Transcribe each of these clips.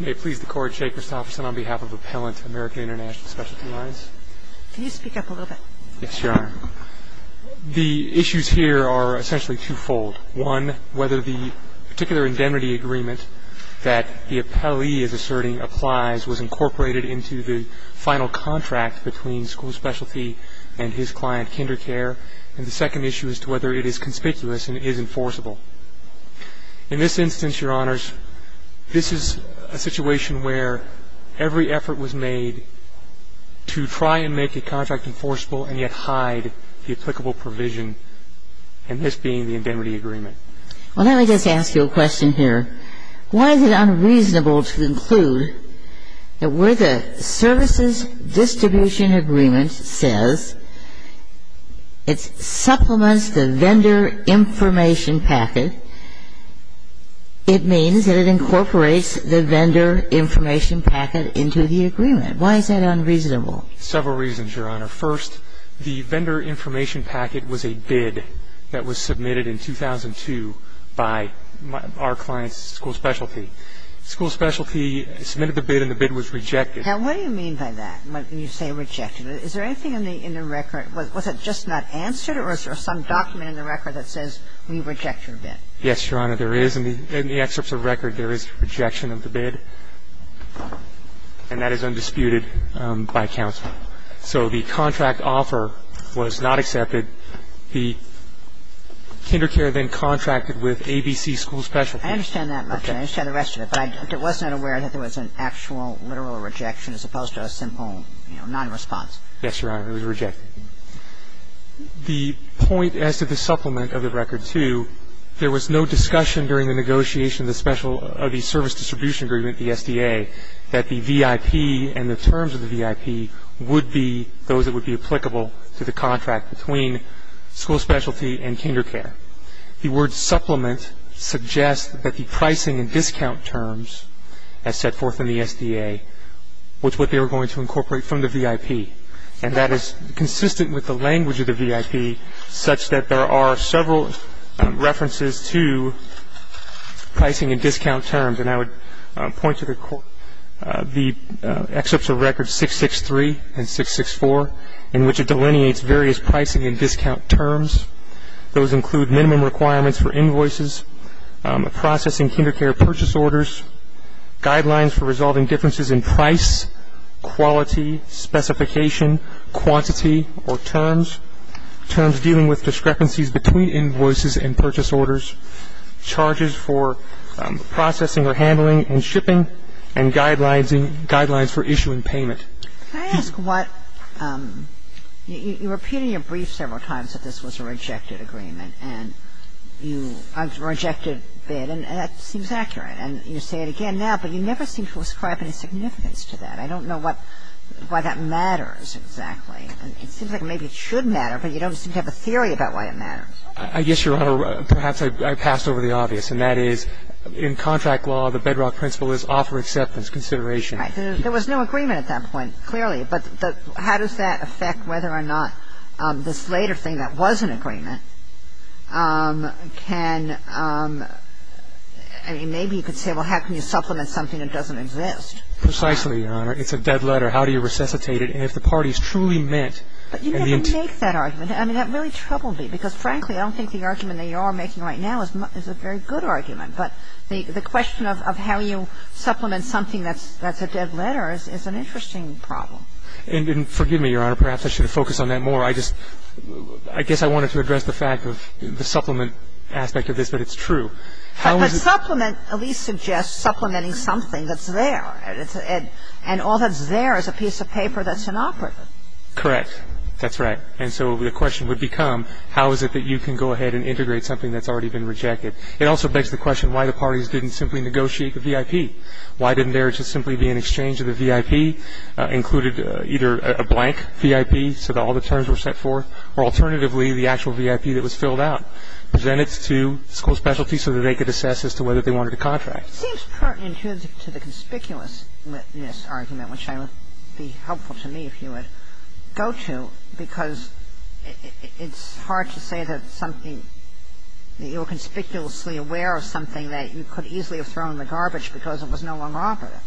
May it please the Court, Shea Christofferson on behalf of Appellant American International Specialty Alliance. Can you speak up a little bit? Yes, Your Honor. The issues here are essentially twofold. One, whether the particular indemnity agreement that the appellee is asserting applies was incorporated into the final contract between school specialty and his client, Kindercare. And the second issue is to whether it is conspicuous and is enforceable. In this instance, Your Honors, this is a situation where every effort was made to try and make the contract enforceable and yet hide the applicable provision in this being the indemnity agreement. Well, let me just ask you a question here. Why is it unreasonable to conclude that where the services distribution agreement says it supplements the vendor information packet, it means that it incorporates the vendor information packet into the agreement. Why is that unreasonable? Several reasons, Your Honor. First, the vendor information packet was a bid that was submitted in 2002 by our client's school specialty. The school specialty submitted the bid and the bid was rejected. Now, what do you mean by that when you say rejected? Is there anything in the record was it just not answered or is there some document in the record that says we reject your bid? Yes, Your Honor, there is. In the excerpts of record, there is rejection of the bid, and that is undisputed by counsel. So the contract offer was not accepted. The Kindercare then contracted with ABC school specialty. I understand that much, and I understand the rest of it, but I wasn't aware that there was an actual literal rejection as opposed to a simple, you know, nonresponse. Yes, Your Honor, it was rejected. The point as to the supplement of the record, too, there was no discussion during the negotiation of the service distribution agreement, the SDA, that the VIP and the terms of the VIP would be those that would be applicable to the contract between school specialty and Kindercare. The word supplement suggests that the pricing and discount terms as set forth in the SDA was what they were going to incorporate from the VIP, and that is consistent with the language of the VIP such that there are several references to pricing and discount terms. And I would point to the excerpts of record 663 and 664 in which it delineates various pricing and discount terms. Those include minimum requirements for invoices, processing Kindercare purchase orders, guidelines for resolving differences in price, quality, specification, quantity, or terms, terms dealing with discrepancies between invoices and purchase orders, charges for processing or handling and shipping, and guidelines for issuing payment. Can I ask what you repeat in your brief several times that this was a rejected agreement and you rejected bid, and that seems accurate. And you say it again now, but you never seem to ascribe any significance to that. I don't know what why that matters exactly. It seems like maybe it should matter, but you don't seem to have a theory about why it matters. I guess, Your Honor, perhaps I passed over the obvious, and that is in contract law, the bedrock principle is offer acceptance, consideration. Right. There was no agreement at that point, clearly. But how does that affect whether or not this later thing that was an agreement can ‑‑ I mean, maybe you could say, well, how can you supplement something that doesn't exist? Precisely, Your Honor. It's a dead letter. How do you resuscitate it if the party is truly meant to ‑‑ But you never make that argument. I mean, that really troubled me, because, frankly, I don't think the argument that you are making right now is a very good argument. But the question of how you supplement something that's a dead letter is an interesting problem. And forgive me, Your Honor, perhaps I should have focused on that more. I just ‑‑ I guess I wanted to address the fact of the supplement aspect of this, but it's true. How is it ‑‑ But supplement at least suggests supplementing something that's there. And all that's there is a piece of paper that's inoperative. Correct. That's right. And so the question would become how is it that you can go ahead and integrate something that's already been rejected. It also begs the question why the parties didn't simply negotiate the VIP. Why didn't there just simply be an exchange of the VIP, included either a blank VIP so that all the terms were set forth, or alternatively the actual VIP that was filled out, presented to school specialty so that they could assess as to whether they wanted a contract. It seems partly intrinsic to the conspicuousness argument, which would be helpful to me if you would go to, because it's hard to say that something ‑‑ If you were conspicuously aware of something that you could easily have thrown in the garbage because it was no longer operative.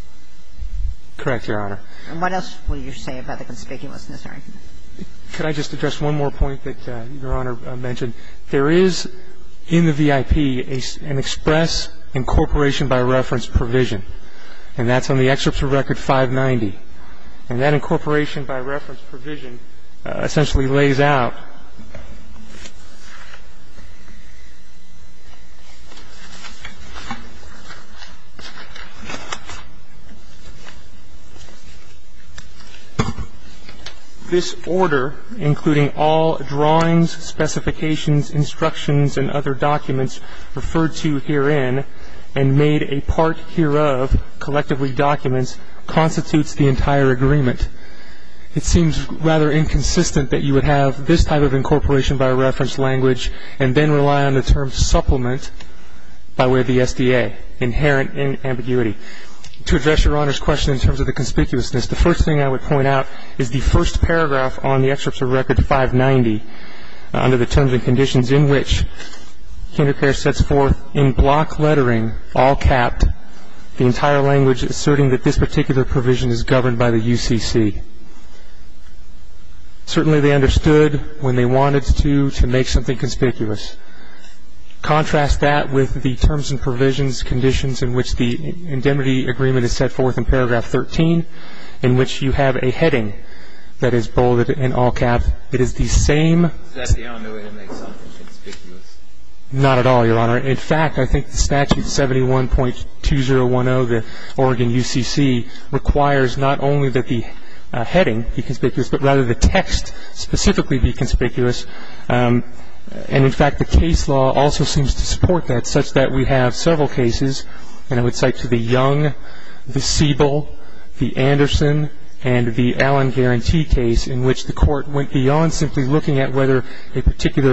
Correct, Your Honor. And what else will you say about the conspicuousness argument? Could I just address one more point that Your Honor mentioned? There is in the VIP an express incorporation by reference provision. And that's on the excerpt from Record 590. And that incorporation by reference provision essentially lays out ‑‑ This order, including all drawings, specifications, instructions, and other documents referred to herein, and made a part hereof, collectively documents, constitutes the entire agreement. It seems rather inconsistent that you would have this type of incorporation by reference language and then rely on the term supplement by way of the SDA, inherent in ambiguity. To address Your Honor's question in terms of the conspicuousness, the first thing I would point out is the first paragraph on the excerpt from Record 590, under the terms and conditions in which KinderCare sets forth in block lettering, all capped, the entire language asserting that this particular provision is governed by the UCC. Certainly they understood when they wanted to, to make something conspicuous. Contrast that with the terms and provisions, conditions in which the indemnity agreement is set forth in paragraph 13, in which you have a heading that is bolded in all capped. It is the same ‑‑ Is that the only way to make something conspicuous? Not at all, Your Honor. In fact, I think the statute 71.2010, the Oregon UCC, requires not only that the heading be conspicuous, but rather the text specifically be conspicuous. And in fact, the case law also seems to support that, such that we have several cases, and I would cite to the Young, the Siebel, the Anderson, and the Allen Guarantee case, in which the court went beyond simply looking at whether a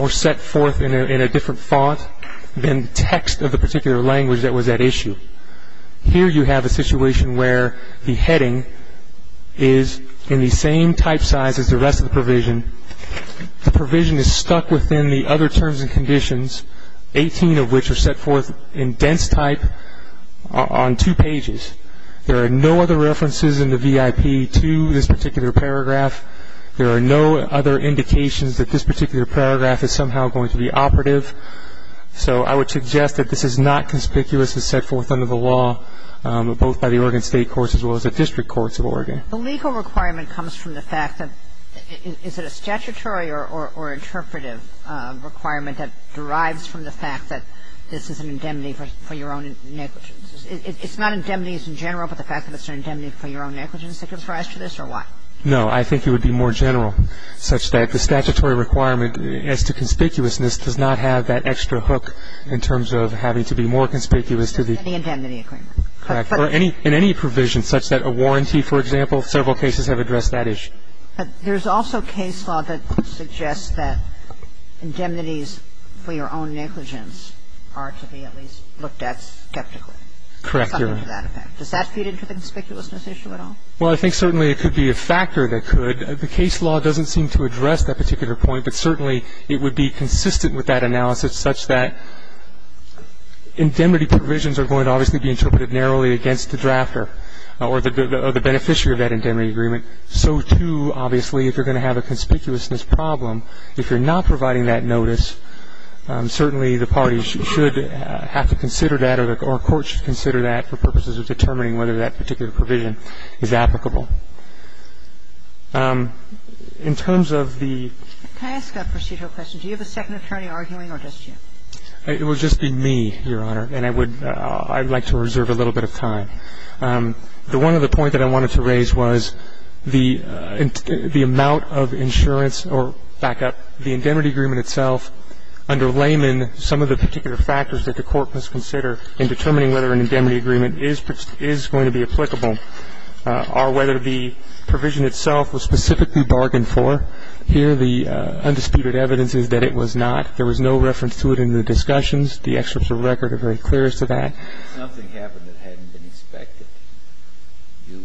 or set forth in a different font than text of the particular language that was at issue. Here you have a situation where the heading is in the same type size as the rest of the provision. The provision is stuck within the other terms and conditions, 18 of which are set forth in dense type on two pages. There are no other references in the VIP to this particular paragraph. There are no other indications that this particular paragraph is somehow going to be operative, so I would suggest that this is not conspicuous as set forth under the law, both by the Oregon State Courts as well as the District Courts of Oregon. The legal requirement comes from the fact that ‑‑ is it a statutory or interpretive requirement that derives from the fact that this is an indemnity for your own negligence? It's not indemnities in general, but the fact that it's an indemnity for your own negligence that gives rise to this, or what? No. I think it would be more general, such that the statutory requirement as to conspicuousness does not have that extra hook in terms of having to be more conspicuous to the ‑‑ In the indemnity agreement. Correct. Or in any provision, such that a warranty, for example, several cases have addressed that issue. But there's also case law that suggests that indemnities for your own negligence are to be at least looked at skeptically. Correct. Something to that effect. Does that feed into the conspicuousness issue at all? Well, I think certainly it could be a factor that could. The case law doesn't seem to address that particular point, but certainly it would be consistent with that analysis, such that indemnity provisions are going to obviously be interpreted narrowly against the drafter or the beneficiary of that indemnity agreement. So, too, obviously, if you're going to have a conspicuousness problem, if you're not providing that notice, certainly the parties should have to consider that, or a court should consider that for purposes of determining whether that particular provision is applicable. In terms of the ‑‑ Can I ask a procedural question? Do you have a second attorney arguing or just you? It would just be me, Your Honor, and I would ‑‑ I would like to reserve a little bit of time. The one other point that I wanted to raise was the amount of insurance or, back up, the indemnity agreement itself, under layman, some of the particular factors that the court must consider in determining whether an indemnity agreement is going to be applicable are whether the provision itself was specifically bargained for. Here, the undisputed evidence is that it was not. There was no reference to it in the discussions. The experts of record are very clear as to that. If something happened that hadn't been expected, you ‑‑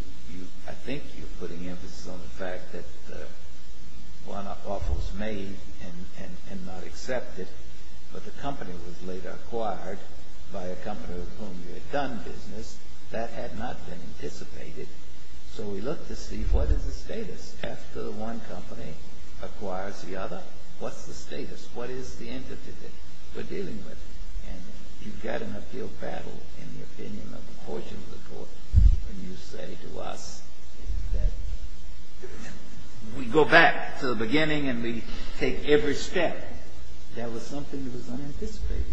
I think you're putting emphasis on the fact that one offer was made and not accepted, but the company that was later acquired by a company with whom you had done business, that had not been anticipated, so we looked to see what is the status. After one company acquires the other, what's the status? What is the entity that we're dealing with? And you've got an appeal battle in the opinion of a portion of the court when you say to us that we go back to the beginning and we take every step. That was something that was unanticipated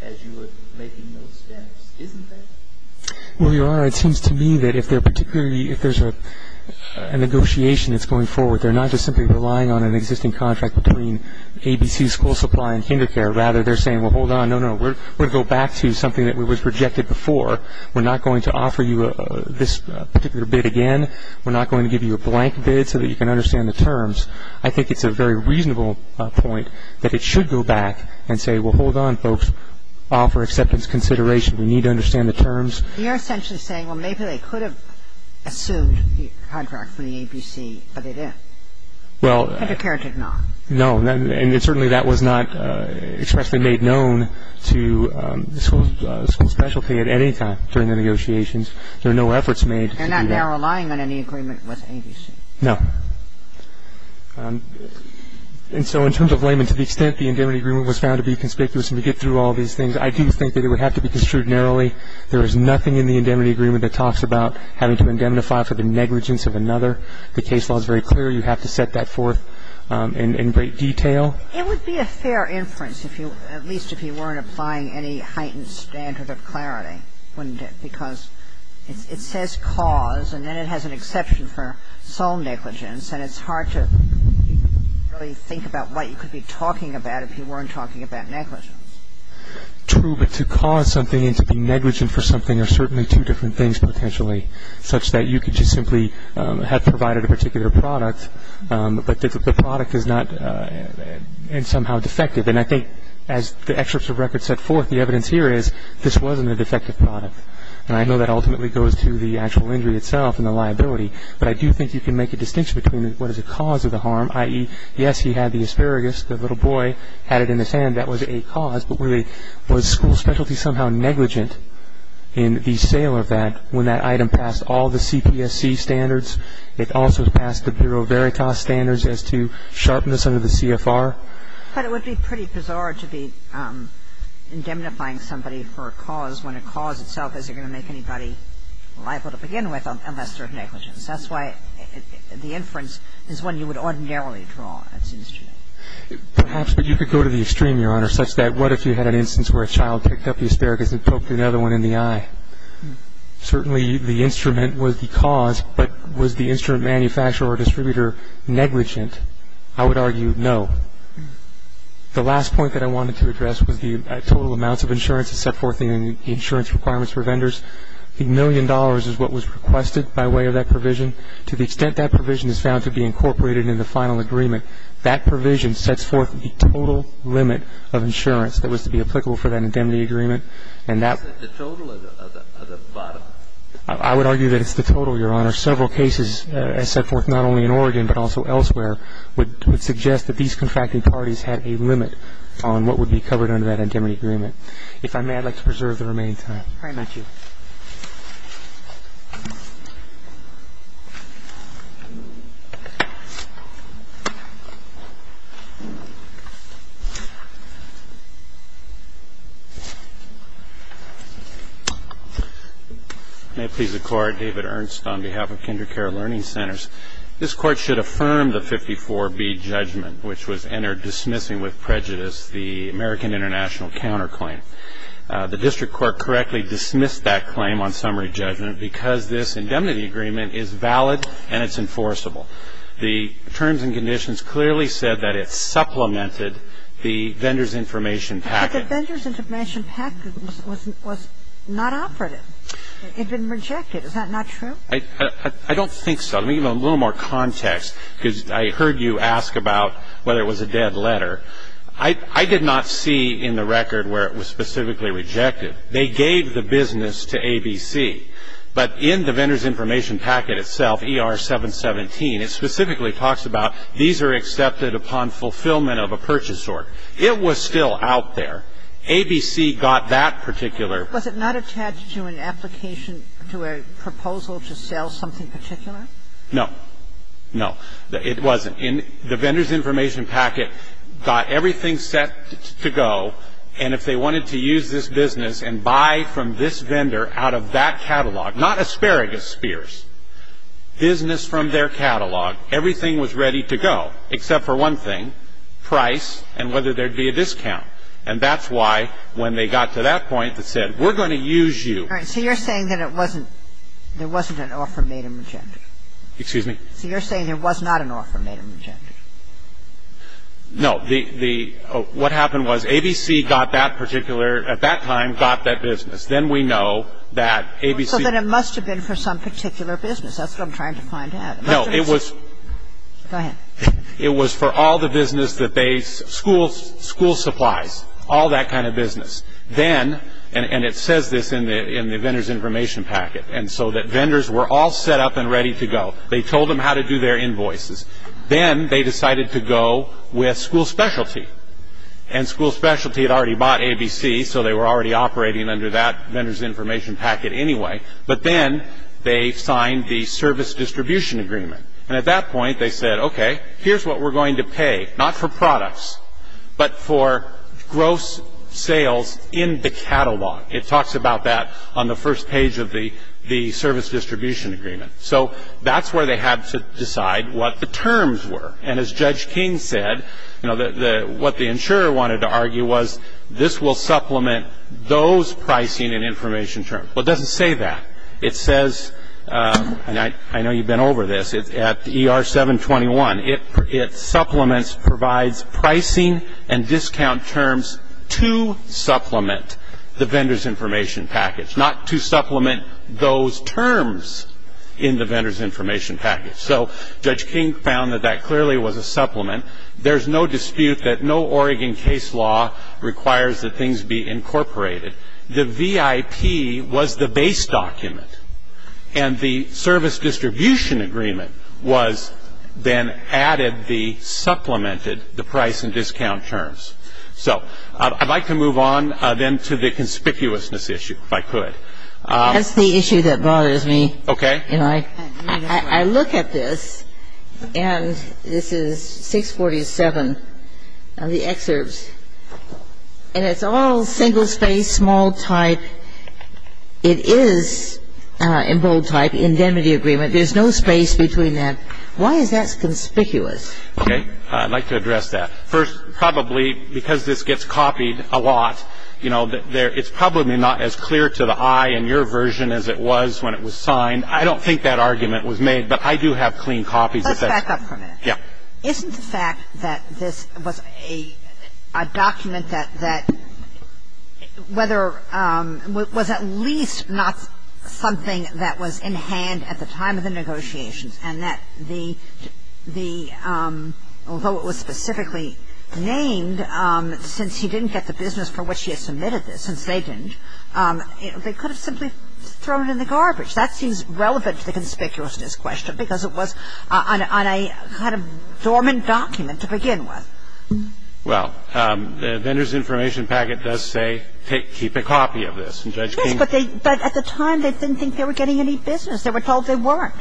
as you were making those steps, isn't that? Well, Your Honor, it seems to me that if there's a negotiation that's going forward, they're not just simply relying on an existing contract between ABC School Supply and Kinder Care. Rather, they're saying, well, hold on, no, no, we're going to go back to something that was rejected before. We're not going to offer you this particular bid again. We're not going to give you a blank bid so that you can understand the terms. I think it's a very reasonable point that it should go back and say, well, hold on, folks, offer acceptance consideration. We need to understand the terms. You're essentially saying, well, maybe they could have assumed the contract from the ABC, but they didn't. Well. Kinder Care did not. No, and certainly that was not expressly made known to the school specialty at any time during the negotiations. They're not now relying on any agreement with ABC. No. And so in terms of laymen, to the extent the indemnity agreement was found to be conspicuous and to get through all these things, I do think that it would have to be construed narrowly. There is nothing in the indemnity agreement that talks about having to indemnify for the negligence of another. The case law is very clear. You have to set that forth in great detail. It would be a fair inference, at least if you weren't applying any heightened standard of clarity, wouldn't it? Because it says cause, and then it has an exception for sole negligence. And it's hard to really think about what you could be talking about if you weren't talking about negligence. True, but to cause something and to be negligent for something are certainly two different things, potentially, such that you could just simply have provided a particular product, but the product is not somehow defective. And I think as the excerpts of records set forth, the evidence here is this wasn't a defective product. And I know that ultimately goes to the actual injury itself and the liability. But I do think you can make a distinction between what is the cause of the harm, i.e., yes, he had the asparagus, the little boy had it in his hand, that was a cause. But really, was school specialty somehow negligent in the sale of that when that item passed all the CPSC standards? It also passed the Bureau of Veritas standards as to sharpness under the CFR. But it would be pretty bizarre to be indemnifying somebody for a cause when a product is negligent in the sale of a product. And I think that's a good point, Your Honor, because I don't think anybody is liable to begin with unless they're negligent. So that's why the inference is one you would ordinarily draw, it seems to me. Perhaps, but you could go to the extreme, Your Honor, such that what if you had an instance where a child picked up the asparagus and poked another one in the eye? Certainly, the instrument was the cause, but was the instrument manufacturer or distributor negligent? I would argue no. The last point that I wanted to address was the total amounts of insurance that's set forth in the insurance requirements for vendors. The million dollars is what was requested by way of that provision. To the extent that provision is found to be incorporated in the final agreement, that provision sets forth the total limit of insurance that was to be applicable for that indemnity agreement. And that's the total or the bottom? I would argue that it's the total, Your Honor. And there are several cases, as set forth not only in Oregon but also elsewhere, would suggest that these contracting parties had a limit on what would be covered under that indemnity agreement. If I may, I'd like to preserve the remaining time. Very much so. May it please the Court. David Ernst on behalf of KinderCare Learning Centers. This Court should affirm the 54B judgment, which was entered dismissing with prejudice the American International counterclaim. The district court correctly dismissed that claim on summary judgment because this indemnity agreement is valid and it's enforceable. The terms and conditions clearly said that it supplemented the vendor's information package. But the vendor's information package was not operative. It had been rejected. Is that not true? I don't think so. Let me give a little more context because I heard you ask about whether it was a dead letter. I did not see in the record where it was specifically rejected. They gave the business to ABC. But in the vendor's information packet itself, ER-717, it specifically talks about these are accepted upon fulfillment of a purchase order. It was still out there. ABC got that particular. Was it not attached to an application to a proposal to sell something particular? No. No. It wasn't. The vendor's information packet got everything set to go, and if they wanted to use this business and buy from this vendor out of that catalog, not asparagus spears, business from their catalog, everything was ready to go except for one thing, price and whether there would be a discount. And that's why when they got to that point that said we're going to use you. All right. So you're saying that it wasn't an offer made in Magenta? Excuse me? So you're saying there was not an offer made in Magenta? No. The what happened was ABC got that particular, at that time, got that business. Then we know that ABC. So then it must have been for some particular business. That's what I'm trying to find out. No. It was. Go ahead. It was for all the business that they, school supplies, all that kind of business. Then, and it says this in the vendor's information packet, and so that vendors were all set up and ready to go. They told them how to do their invoices. Then they decided to go with school specialty. And school specialty had already bought ABC, so they were already operating under that vendor's information packet anyway. But then they signed the service distribution agreement. And at that point they said, okay, here's what we're going to pay, not for products, but for gross sales in the catalog. It talks about that on the first page of the service distribution agreement. So that's where they had to decide what the terms were. And as Judge King said, you know, what the insurer wanted to argue was this will supplement those pricing and information terms. Well, it doesn't say that. It says, and I know you've been over this, at ER 721, it supplements, provides pricing and discount terms to supplement the vendor's information package, not to supplement those terms. In the vendor's information package. So Judge King found that that clearly was a supplement. There's no dispute that no Oregon case law requires that things be incorporated. The VIP was the base document. And the service distribution agreement was then added the, supplemented the price and discount terms. So I'd like to move on then to the conspicuousness issue, if I could. That's the issue that bothers me. Okay. You know, I look at this, and this is 647 of the excerpts, and it's all single space, small type. It is in bold type, indemnity agreement. There's no space between that. Why is that conspicuous? Okay. I'd like to address that. First, probably because this gets copied a lot, you know, and it's probably not as clear to the eye in your version as it was when it was signed. I don't think that argument was made, but I do have clean copies of that. Let's back up for a minute. Yeah. Isn't the fact that this was a document that whether, was at least not something that was in hand at the time of the negotiations, and that the, although it was specifically named since he didn't get the business for which he had submitted this, since they didn't, they could have simply thrown it in the garbage. That seems relevant to the conspicuousness question because it was on a kind of dormant document to begin with. Well, the Vendor's Information Packet does say keep a copy of this, and Judge King Yes, but at the time they didn't think they were getting any business. They were told they weren't.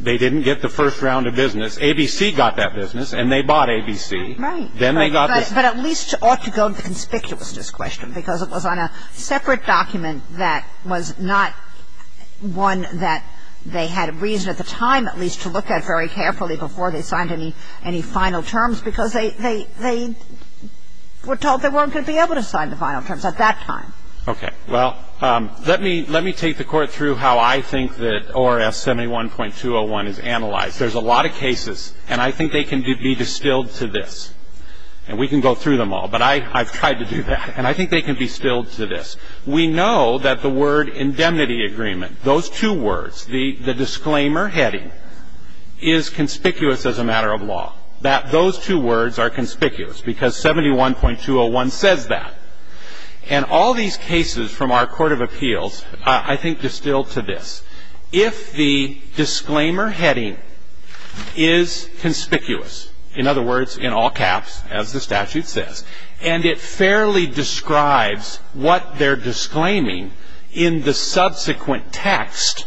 They didn't get the first round of business. ABC got that business, and they bought ABC. Right. Then they got this. But at least ought to go to the conspicuousness question because it was on a separate document that was not one that they had reason at the time at least to look at very carefully before they signed any final terms because they were told they weren't going to be able to sign the final terms at that time. Okay. Well, let me take the Court through how I think that ORS 71.201 is analyzed. There's a lot of cases, and I think they can be distilled to this, and we can go through them all, but I've tried to do that, and I think they can be distilled to this. We know that the word indemnity agreement, those two words, the disclaimer heading is conspicuous as a matter of law, that those two words are conspicuous because 71.201 says that. And all these cases from our Court of Appeals I think distilled to this. If the disclaimer heading is conspicuous, in other words, in all caps, as the statute says, and it fairly describes what they're disclaiming in the subsequent text,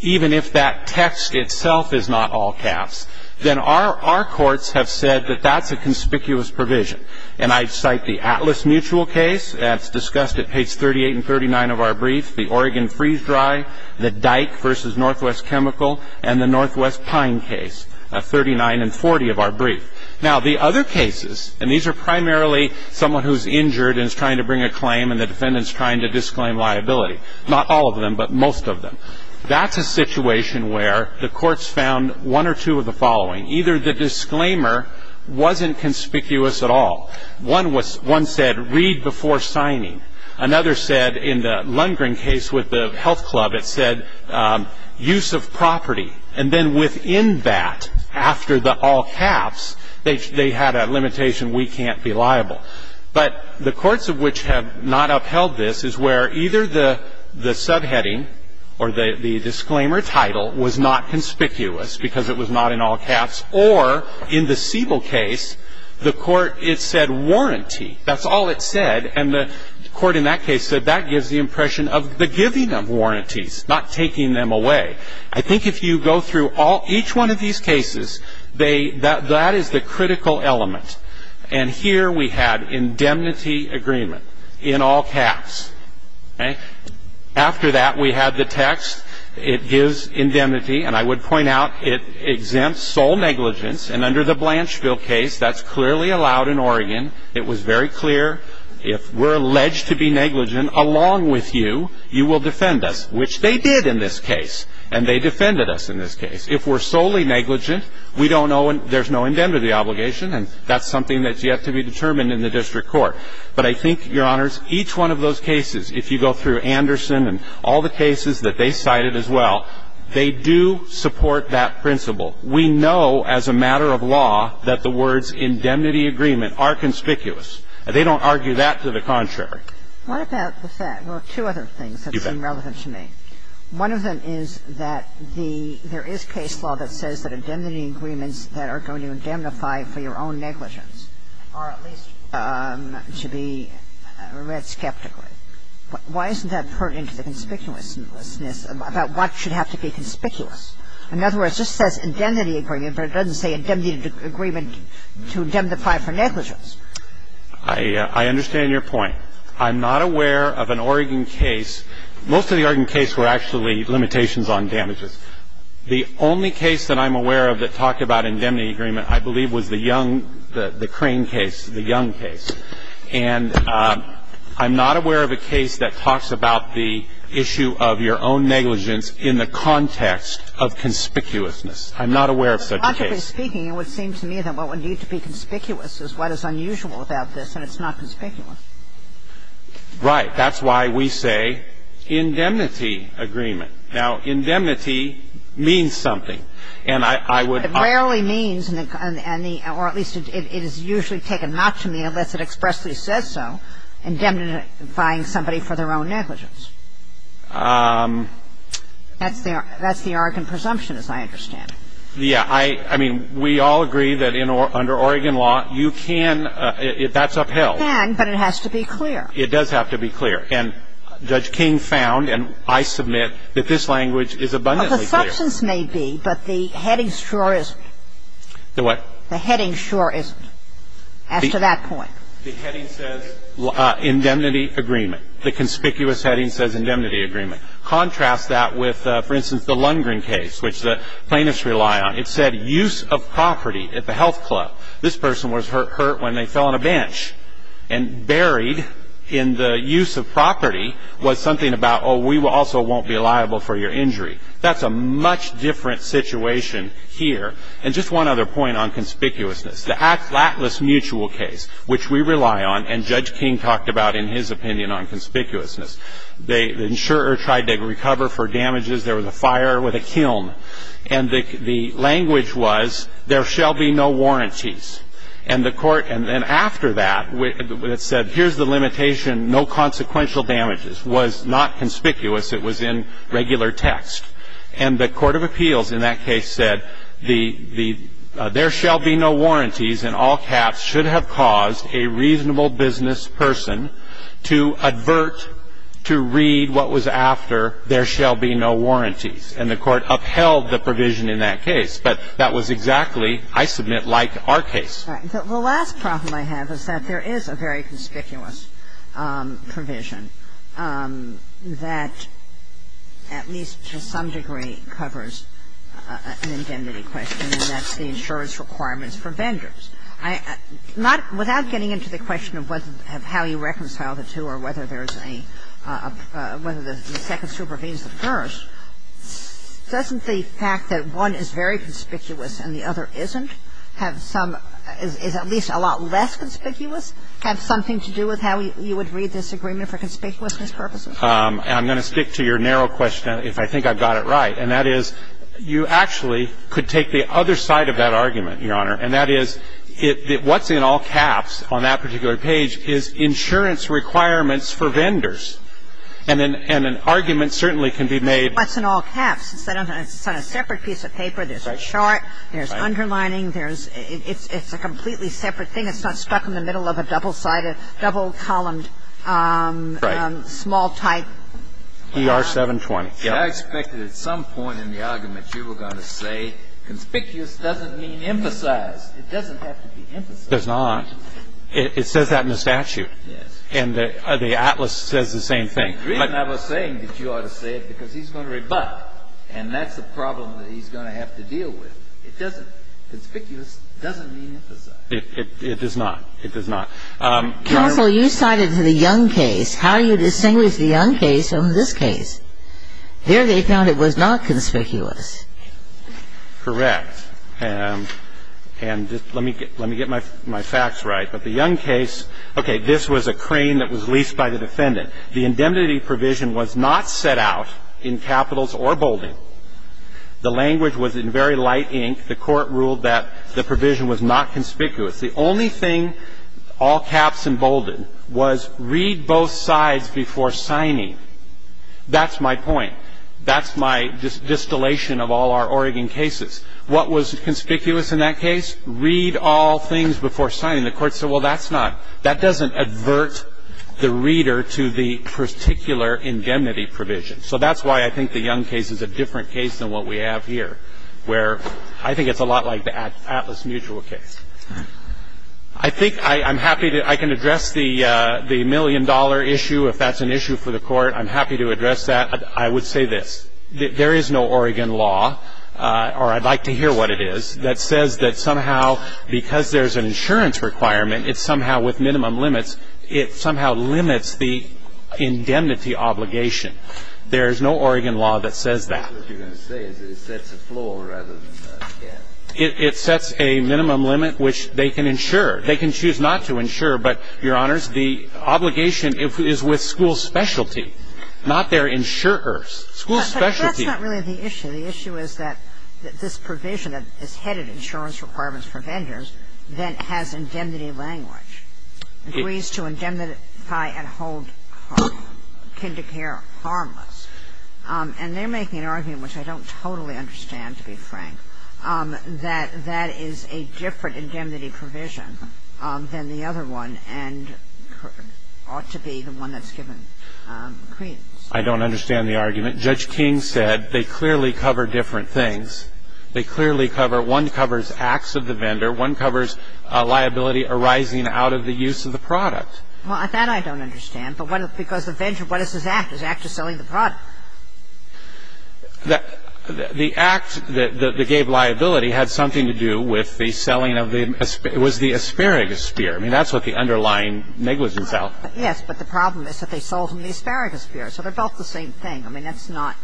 even if that text itself is not all caps, then our courts have said that that's a conspicuous provision. And I cite the Atlas Mutual case that's discussed at page 38 and 39 of our brief, the Oregon freeze-dry, the Dyke v. Northwest Chemical, and the Northwest Pine case at 39 and 40 of our brief. Now, the other cases, and these are primarily someone who's injured and is trying to bring a claim and the defendant's trying to disclaim liability, not all of them but most of them, that's a situation where the courts found one or two of the One said read before signing. Another said in the Lundgren case with the health club, it said use of property. And then within that, after the all caps, they had a limitation, we can't be liable. But the courts of which have not upheld this is where either the subheading or the disclaimer title was not conspicuous because it was not in all caps, or in the That's all it said. And the court in that case said that gives the impression of the giving of warranties, not taking them away. I think if you go through each one of these cases, that is the critical element. And here we had indemnity agreement in all caps. After that, we had the text. It gives indemnity. And I would point out it exempts sole negligence. And under the Blanchville case, that's clearly allowed in Oregon. It was very clear. If we're alleged to be negligent along with you, you will defend us, which they did in this case. And they defended us in this case. If we're solely negligent, we don't owe, there's no indemnity obligation, and that's something that's yet to be determined in the district court. But I think, Your Honors, each one of those cases, if you go through Anderson and all the cases that they cited as well, they do support that principle. We know as a matter of law that the words indemnity agreement are conspicuous. They don't argue that to the contrary. What about the fact, well, two other things that seem relevant to me. You bet. One of them is that the, there is case law that says that indemnity agreements that are going to indemnify for your own negligence are at least to be read skeptically. Why isn't that put into the conspicuousness about what should have to be conspicuous? In other words, it just says indemnity agreement, but it doesn't say indemnity agreement to indemnify for negligence. I understand your point. I'm not aware of an Oregon case. Most of the Oregon cases were actually limitations on damages. The only case that I'm aware of that talked about indemnity agreement, I believe, was the young, the Crane case, the young case. And I'm not aware of a case that talks about the issue of your own negligence in the context of conspicuousness. I'm not aware of such a case. Logically speaking, it would seem to me that what would need to be conspicuous is what is unusual about this, and it's not conspicuous. Right. That's why we say indemnity agreement. Now, indemnity means something. And I would. It rarely means, or at least it is usually taken not to mean unless it expressly says so, indemnifying somebody for their own negligence. That's the Oregon presumption, as I understand it. Yeah. I mean, we all agree that under Oregon law, you can, that's upheld. You can, but it has to be clear. It does have to be clear. And Judge King found, and I submit, that this language is abundantly clear. Well, the substance may be, but the heading sure isn't. The what? The heading sure isn't as to that point. The heading says indemnity agreement. The conspicuous heading says indemnity agreement. Contrast that with, for instance, the Lundgren case, which the plaintiffs rely on. It said use of property at the health club. This person was hurt when they fell on a bench, and buried in the use of property was something about, oh, we also won't be liable for your injury. That's a much different situation here. And just one other point on conspicuousness. The Atlas Mutual case, which we rely on, and Judge King talked about in his opinion on conspicuousness. The insurer tried to recover for damages. There was a fire with a kiln. And the language was there shall be no warranties. And the court, and then after that, it said here's the limitation, no consequential damages. It was not conspicuous. It was in regular text. And the court of appeals in that case said the the there shall be no warranties and all caps should have caused a reasonable business person to advert to read what was after there shall be no warranties. And the court upheld the provision in that case. But that was exactly, I submit, like our case. I'm sorry. The last problem I have is that there is a very conspicuous provision that at least to some degree covers an indemnity question, and that's the insurance requirements for vendors. I not, without getting into the question of how you reconcile the two or whether there's a, whether the second supervenes the first, doesn't the fact that one is very conspicuous is at least a lot less conspicuous have something to do with how you would read this agreement for conspicuousness purposes? I'm going to stick to your narrow question if I think I've got it right. And that is you actually could take the other side of that argument, Your Honor, and that is what's in all caps on that particular page is insurance requirements for vendors. And an argument certainly can be made. What's in all caps? It's on a separate piece of paper. There's a chart. There's underlining. It's a completely separate thing. It's not stuck in the middle of a double-sided, double-columned, small type. Right. ER-720. Yes. I expected at some point in the argument you were going to say conspicuous doesn't mean emphasized. It doesn't have to be emphasized. It does not. It says that in the statute. Yes. And the atlas says the same thing. I was saying that you ought to say it because he's going to rebut, and that's the problem that he's going to have to deal with. It doesn't. Conspicuous doesn't mean emphasized. It does not. It does not. Counsel, you cited the Young case. How do you distinguish the Young case from this case? Here they found it was not conspicuous. Correct. And just let me get my facts right. But the Young case, okay, this was a crane that was leased by the defendant. The indemnity provision was not set out in capitals or bolding. The language was in very light ink. The Court ruled that the provision was not conspicuous. The only thing all caps and bolded was read both sides before signing. That's my point. That's my distillation of all our Oregon cases. What was conspicuous in that case? Read all things before signing. The Court said, well, that's not. That doesn't advert the reader to the particular indemnity provision. So that's why I think the Young case is a different case than what we have here, where I think it's a lot like the Atlas Mutual case. I think I'm happy to address the million-dollar issue. If that's an issue for the Court, I'm happy to address that. I would say this. There is no Oregon law, or I'd like to hear what it is, that says that somehow because there's an insurance requirement, it's somehow with minimum limits, it somehow limits the indemnity obligation. There is no Oregon law that says that. It sets a minimum limit which they can insure. They can choose not to insure, but, Your Honors, the obligation is with school specialty, not their insurers. School specialty. But that's not really the issue. The issue is that this provision, this head of insurance requirements for vendors, that has indemnity language, agrees to indemnify and hold kindergarten harmless. And they're making an argument, which I don't totally understand, to be frank, that that is a different indemnity provision than the other one and ought to be the one that's given credence. I don't understand the argument. Judge King said they clearly cover different things. They clearly cover one covers acts of the vendor. One covers liability arising out of the use of the product. Well, that I don't understand. Because the vendor, what is his act? His act is selling the product. The act that gave liability had something to do with the selling of the, it was the asparagus spear. I mean, that's what the underlying negligence out. Yes, but the problem is that they sold him the asparagus spear. So they're both the same thing. I mean, that's not,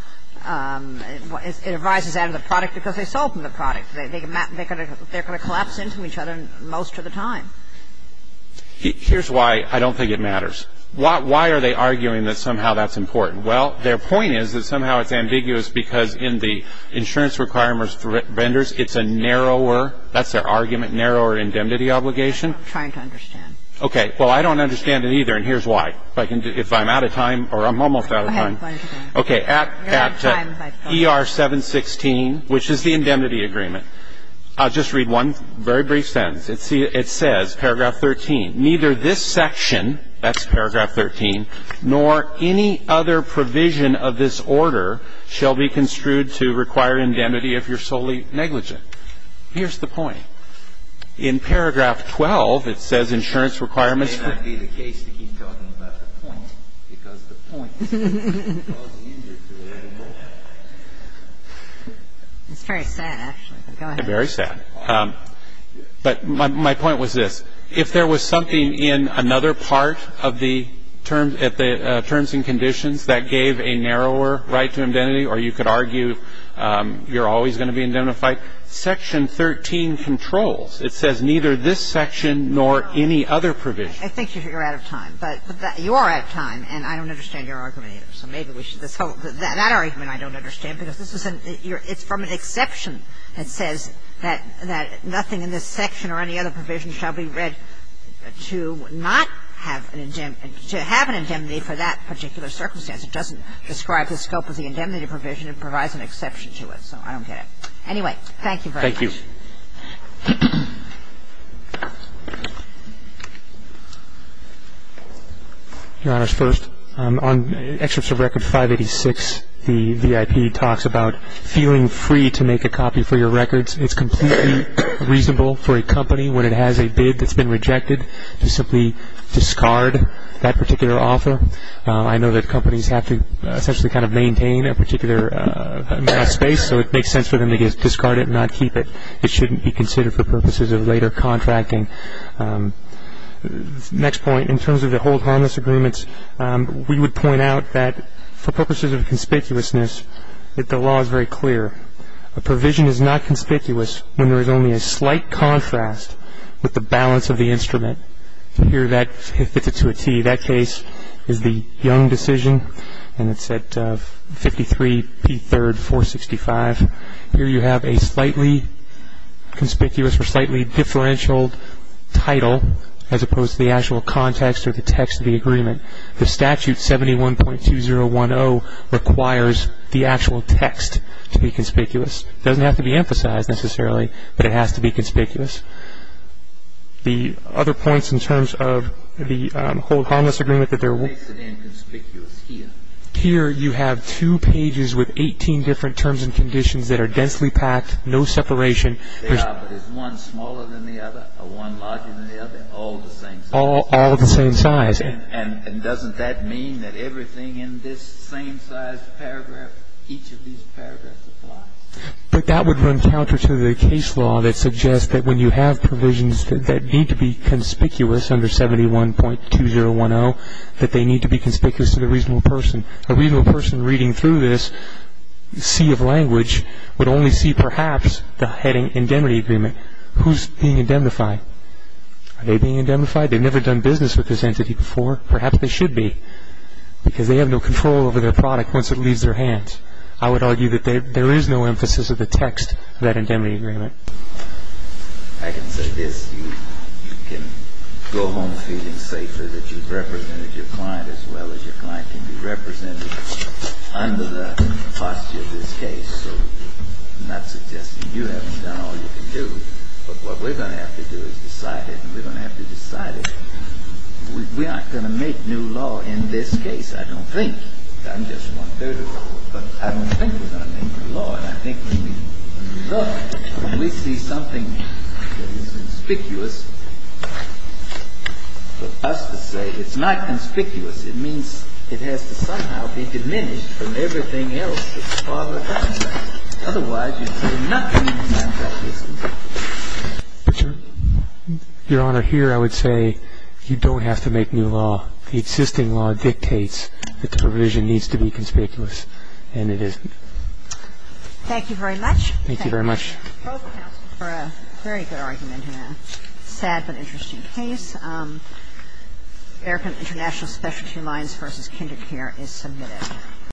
it arises out of the product because they sold him the product. They're going to collapse into each other most of the time. Here's why I don't think it matters. Why are they arguing that somehow that's important? Well, their point is that somehow it's ambiguous because in the insurance requirements for vendors, it's a narrower, that's their argument, narrower indemnity obligation. I'm trying to understand. Okay. Well, I don't understand it either, and here's why. Go ahead. Okay. At ER 716, which is the indemnity agreement, I'll just read one very brief sentence. It says, paragraph 13, neither this section, that's paragraph 13, nor any other provision of this order shall be construed to require indemnity if you're solely negligent. Here's the point. In paragraph 12, it says insurance requirements for vendors. It's very sad, actually. Go ahead. Very sad. But my point was this. If there was something in another part of the terms and conditions that gave a narrower right to indemnity, or you could argue you're always going to be indemnified, section 13 controls. It says neither this section nor any other provision. I think you're out of time. But you are out of time, and I don't understand your argument either. So maybe we should just hold it. That argument I don't understand, because this is an ‑‑ it's from an exception that says that nothing in this section or any other provision shall be read to not have an indemnity, to have an indemnity for that particular circumstance. It doesn't describe the scope of the indemnity provision. It provides an exception to it. So I don't get it. Anyway, thank you very much. Thank you. Your Honors, first, on excerpts of Record 586, the VIP talks about feeling free to make a copy for your records. It's completely reasonable for a company, when it has a bid that's been rejected, to simply discard that particular offer. I know that companies have to essentially kind of maintain a particular amount of space, so it makes sense for them to discard it and not keep it. It shouldn't be considered for purposes of later contracting. Next point, in terms of the hold harmless agreements, we would point out that for purposes of conspicuousness, the law is very clear. A provision is not conspicuous when there is only a slight contrast with the balance of the instrument. Here, that fits it to a T. That case is the Young decision, and it's at 53P3, 465. Here, you have a slightly conspicuous or slightly differential title, as opposed to the actual context or the text of the agreement. The statute, 71.2010, requires the actual text to be conspicuous. It doesn't have to be emphasized, necessarily, but it has to be conspicuous. The other points in terms of the hold harmless agreement that there will be. What makes it inconspicuous here? Here, you have two pages with 18 different terms and conditions that are densely packed, no separation. Yeah, but is one smaller than the other or one larger than the other? All the same size. All the same size. And doesn't that mean that everything in this same size paragraph, each of these paragraphs applies? But that would run counter to the case law that suggests that when you have provisions that need to be conspicuous, under 71.2010, that they need to be conspicuous to the reasonable person. A reasonable person reading through this sea of language would only see, perhaps, the heading indemnity agreement. Who's being indemnified? Are they being indemnified? They've never done business with this entity before. Perhaps they should be, because they have no control over their product once it leaves their hands. I would argue that there is no emphasis of the text of that indemnity agreement. I can say this. You can go home feeling safer that you've represented your client as well as your client can be represented under the posture of this case. So I'm not suggesting you haven't done all you can do. But what we're going to have to do is decide it, and we're going to have to decide it. We aren't going to make new law in this case, I don't think. I'm just one third of the board. But I don't think we're going to make new law. And I think when we look, when we see something that is conspicuous, for us to say it's not conspicuous, it means it has to somehow be diminished from everything else that's farther along. Otherwise, you say nothing is not conspicuous. Your Honor, here I would say you don't have to make new law. The existing law dictates that the provision needs to be conspicuous, and it isn't. Thank you very much. Thank you very much. Thank you both, counsel, for a very good argument in a sad but interesting case. American International Specialty Alliance v. Kinder Care is submitted.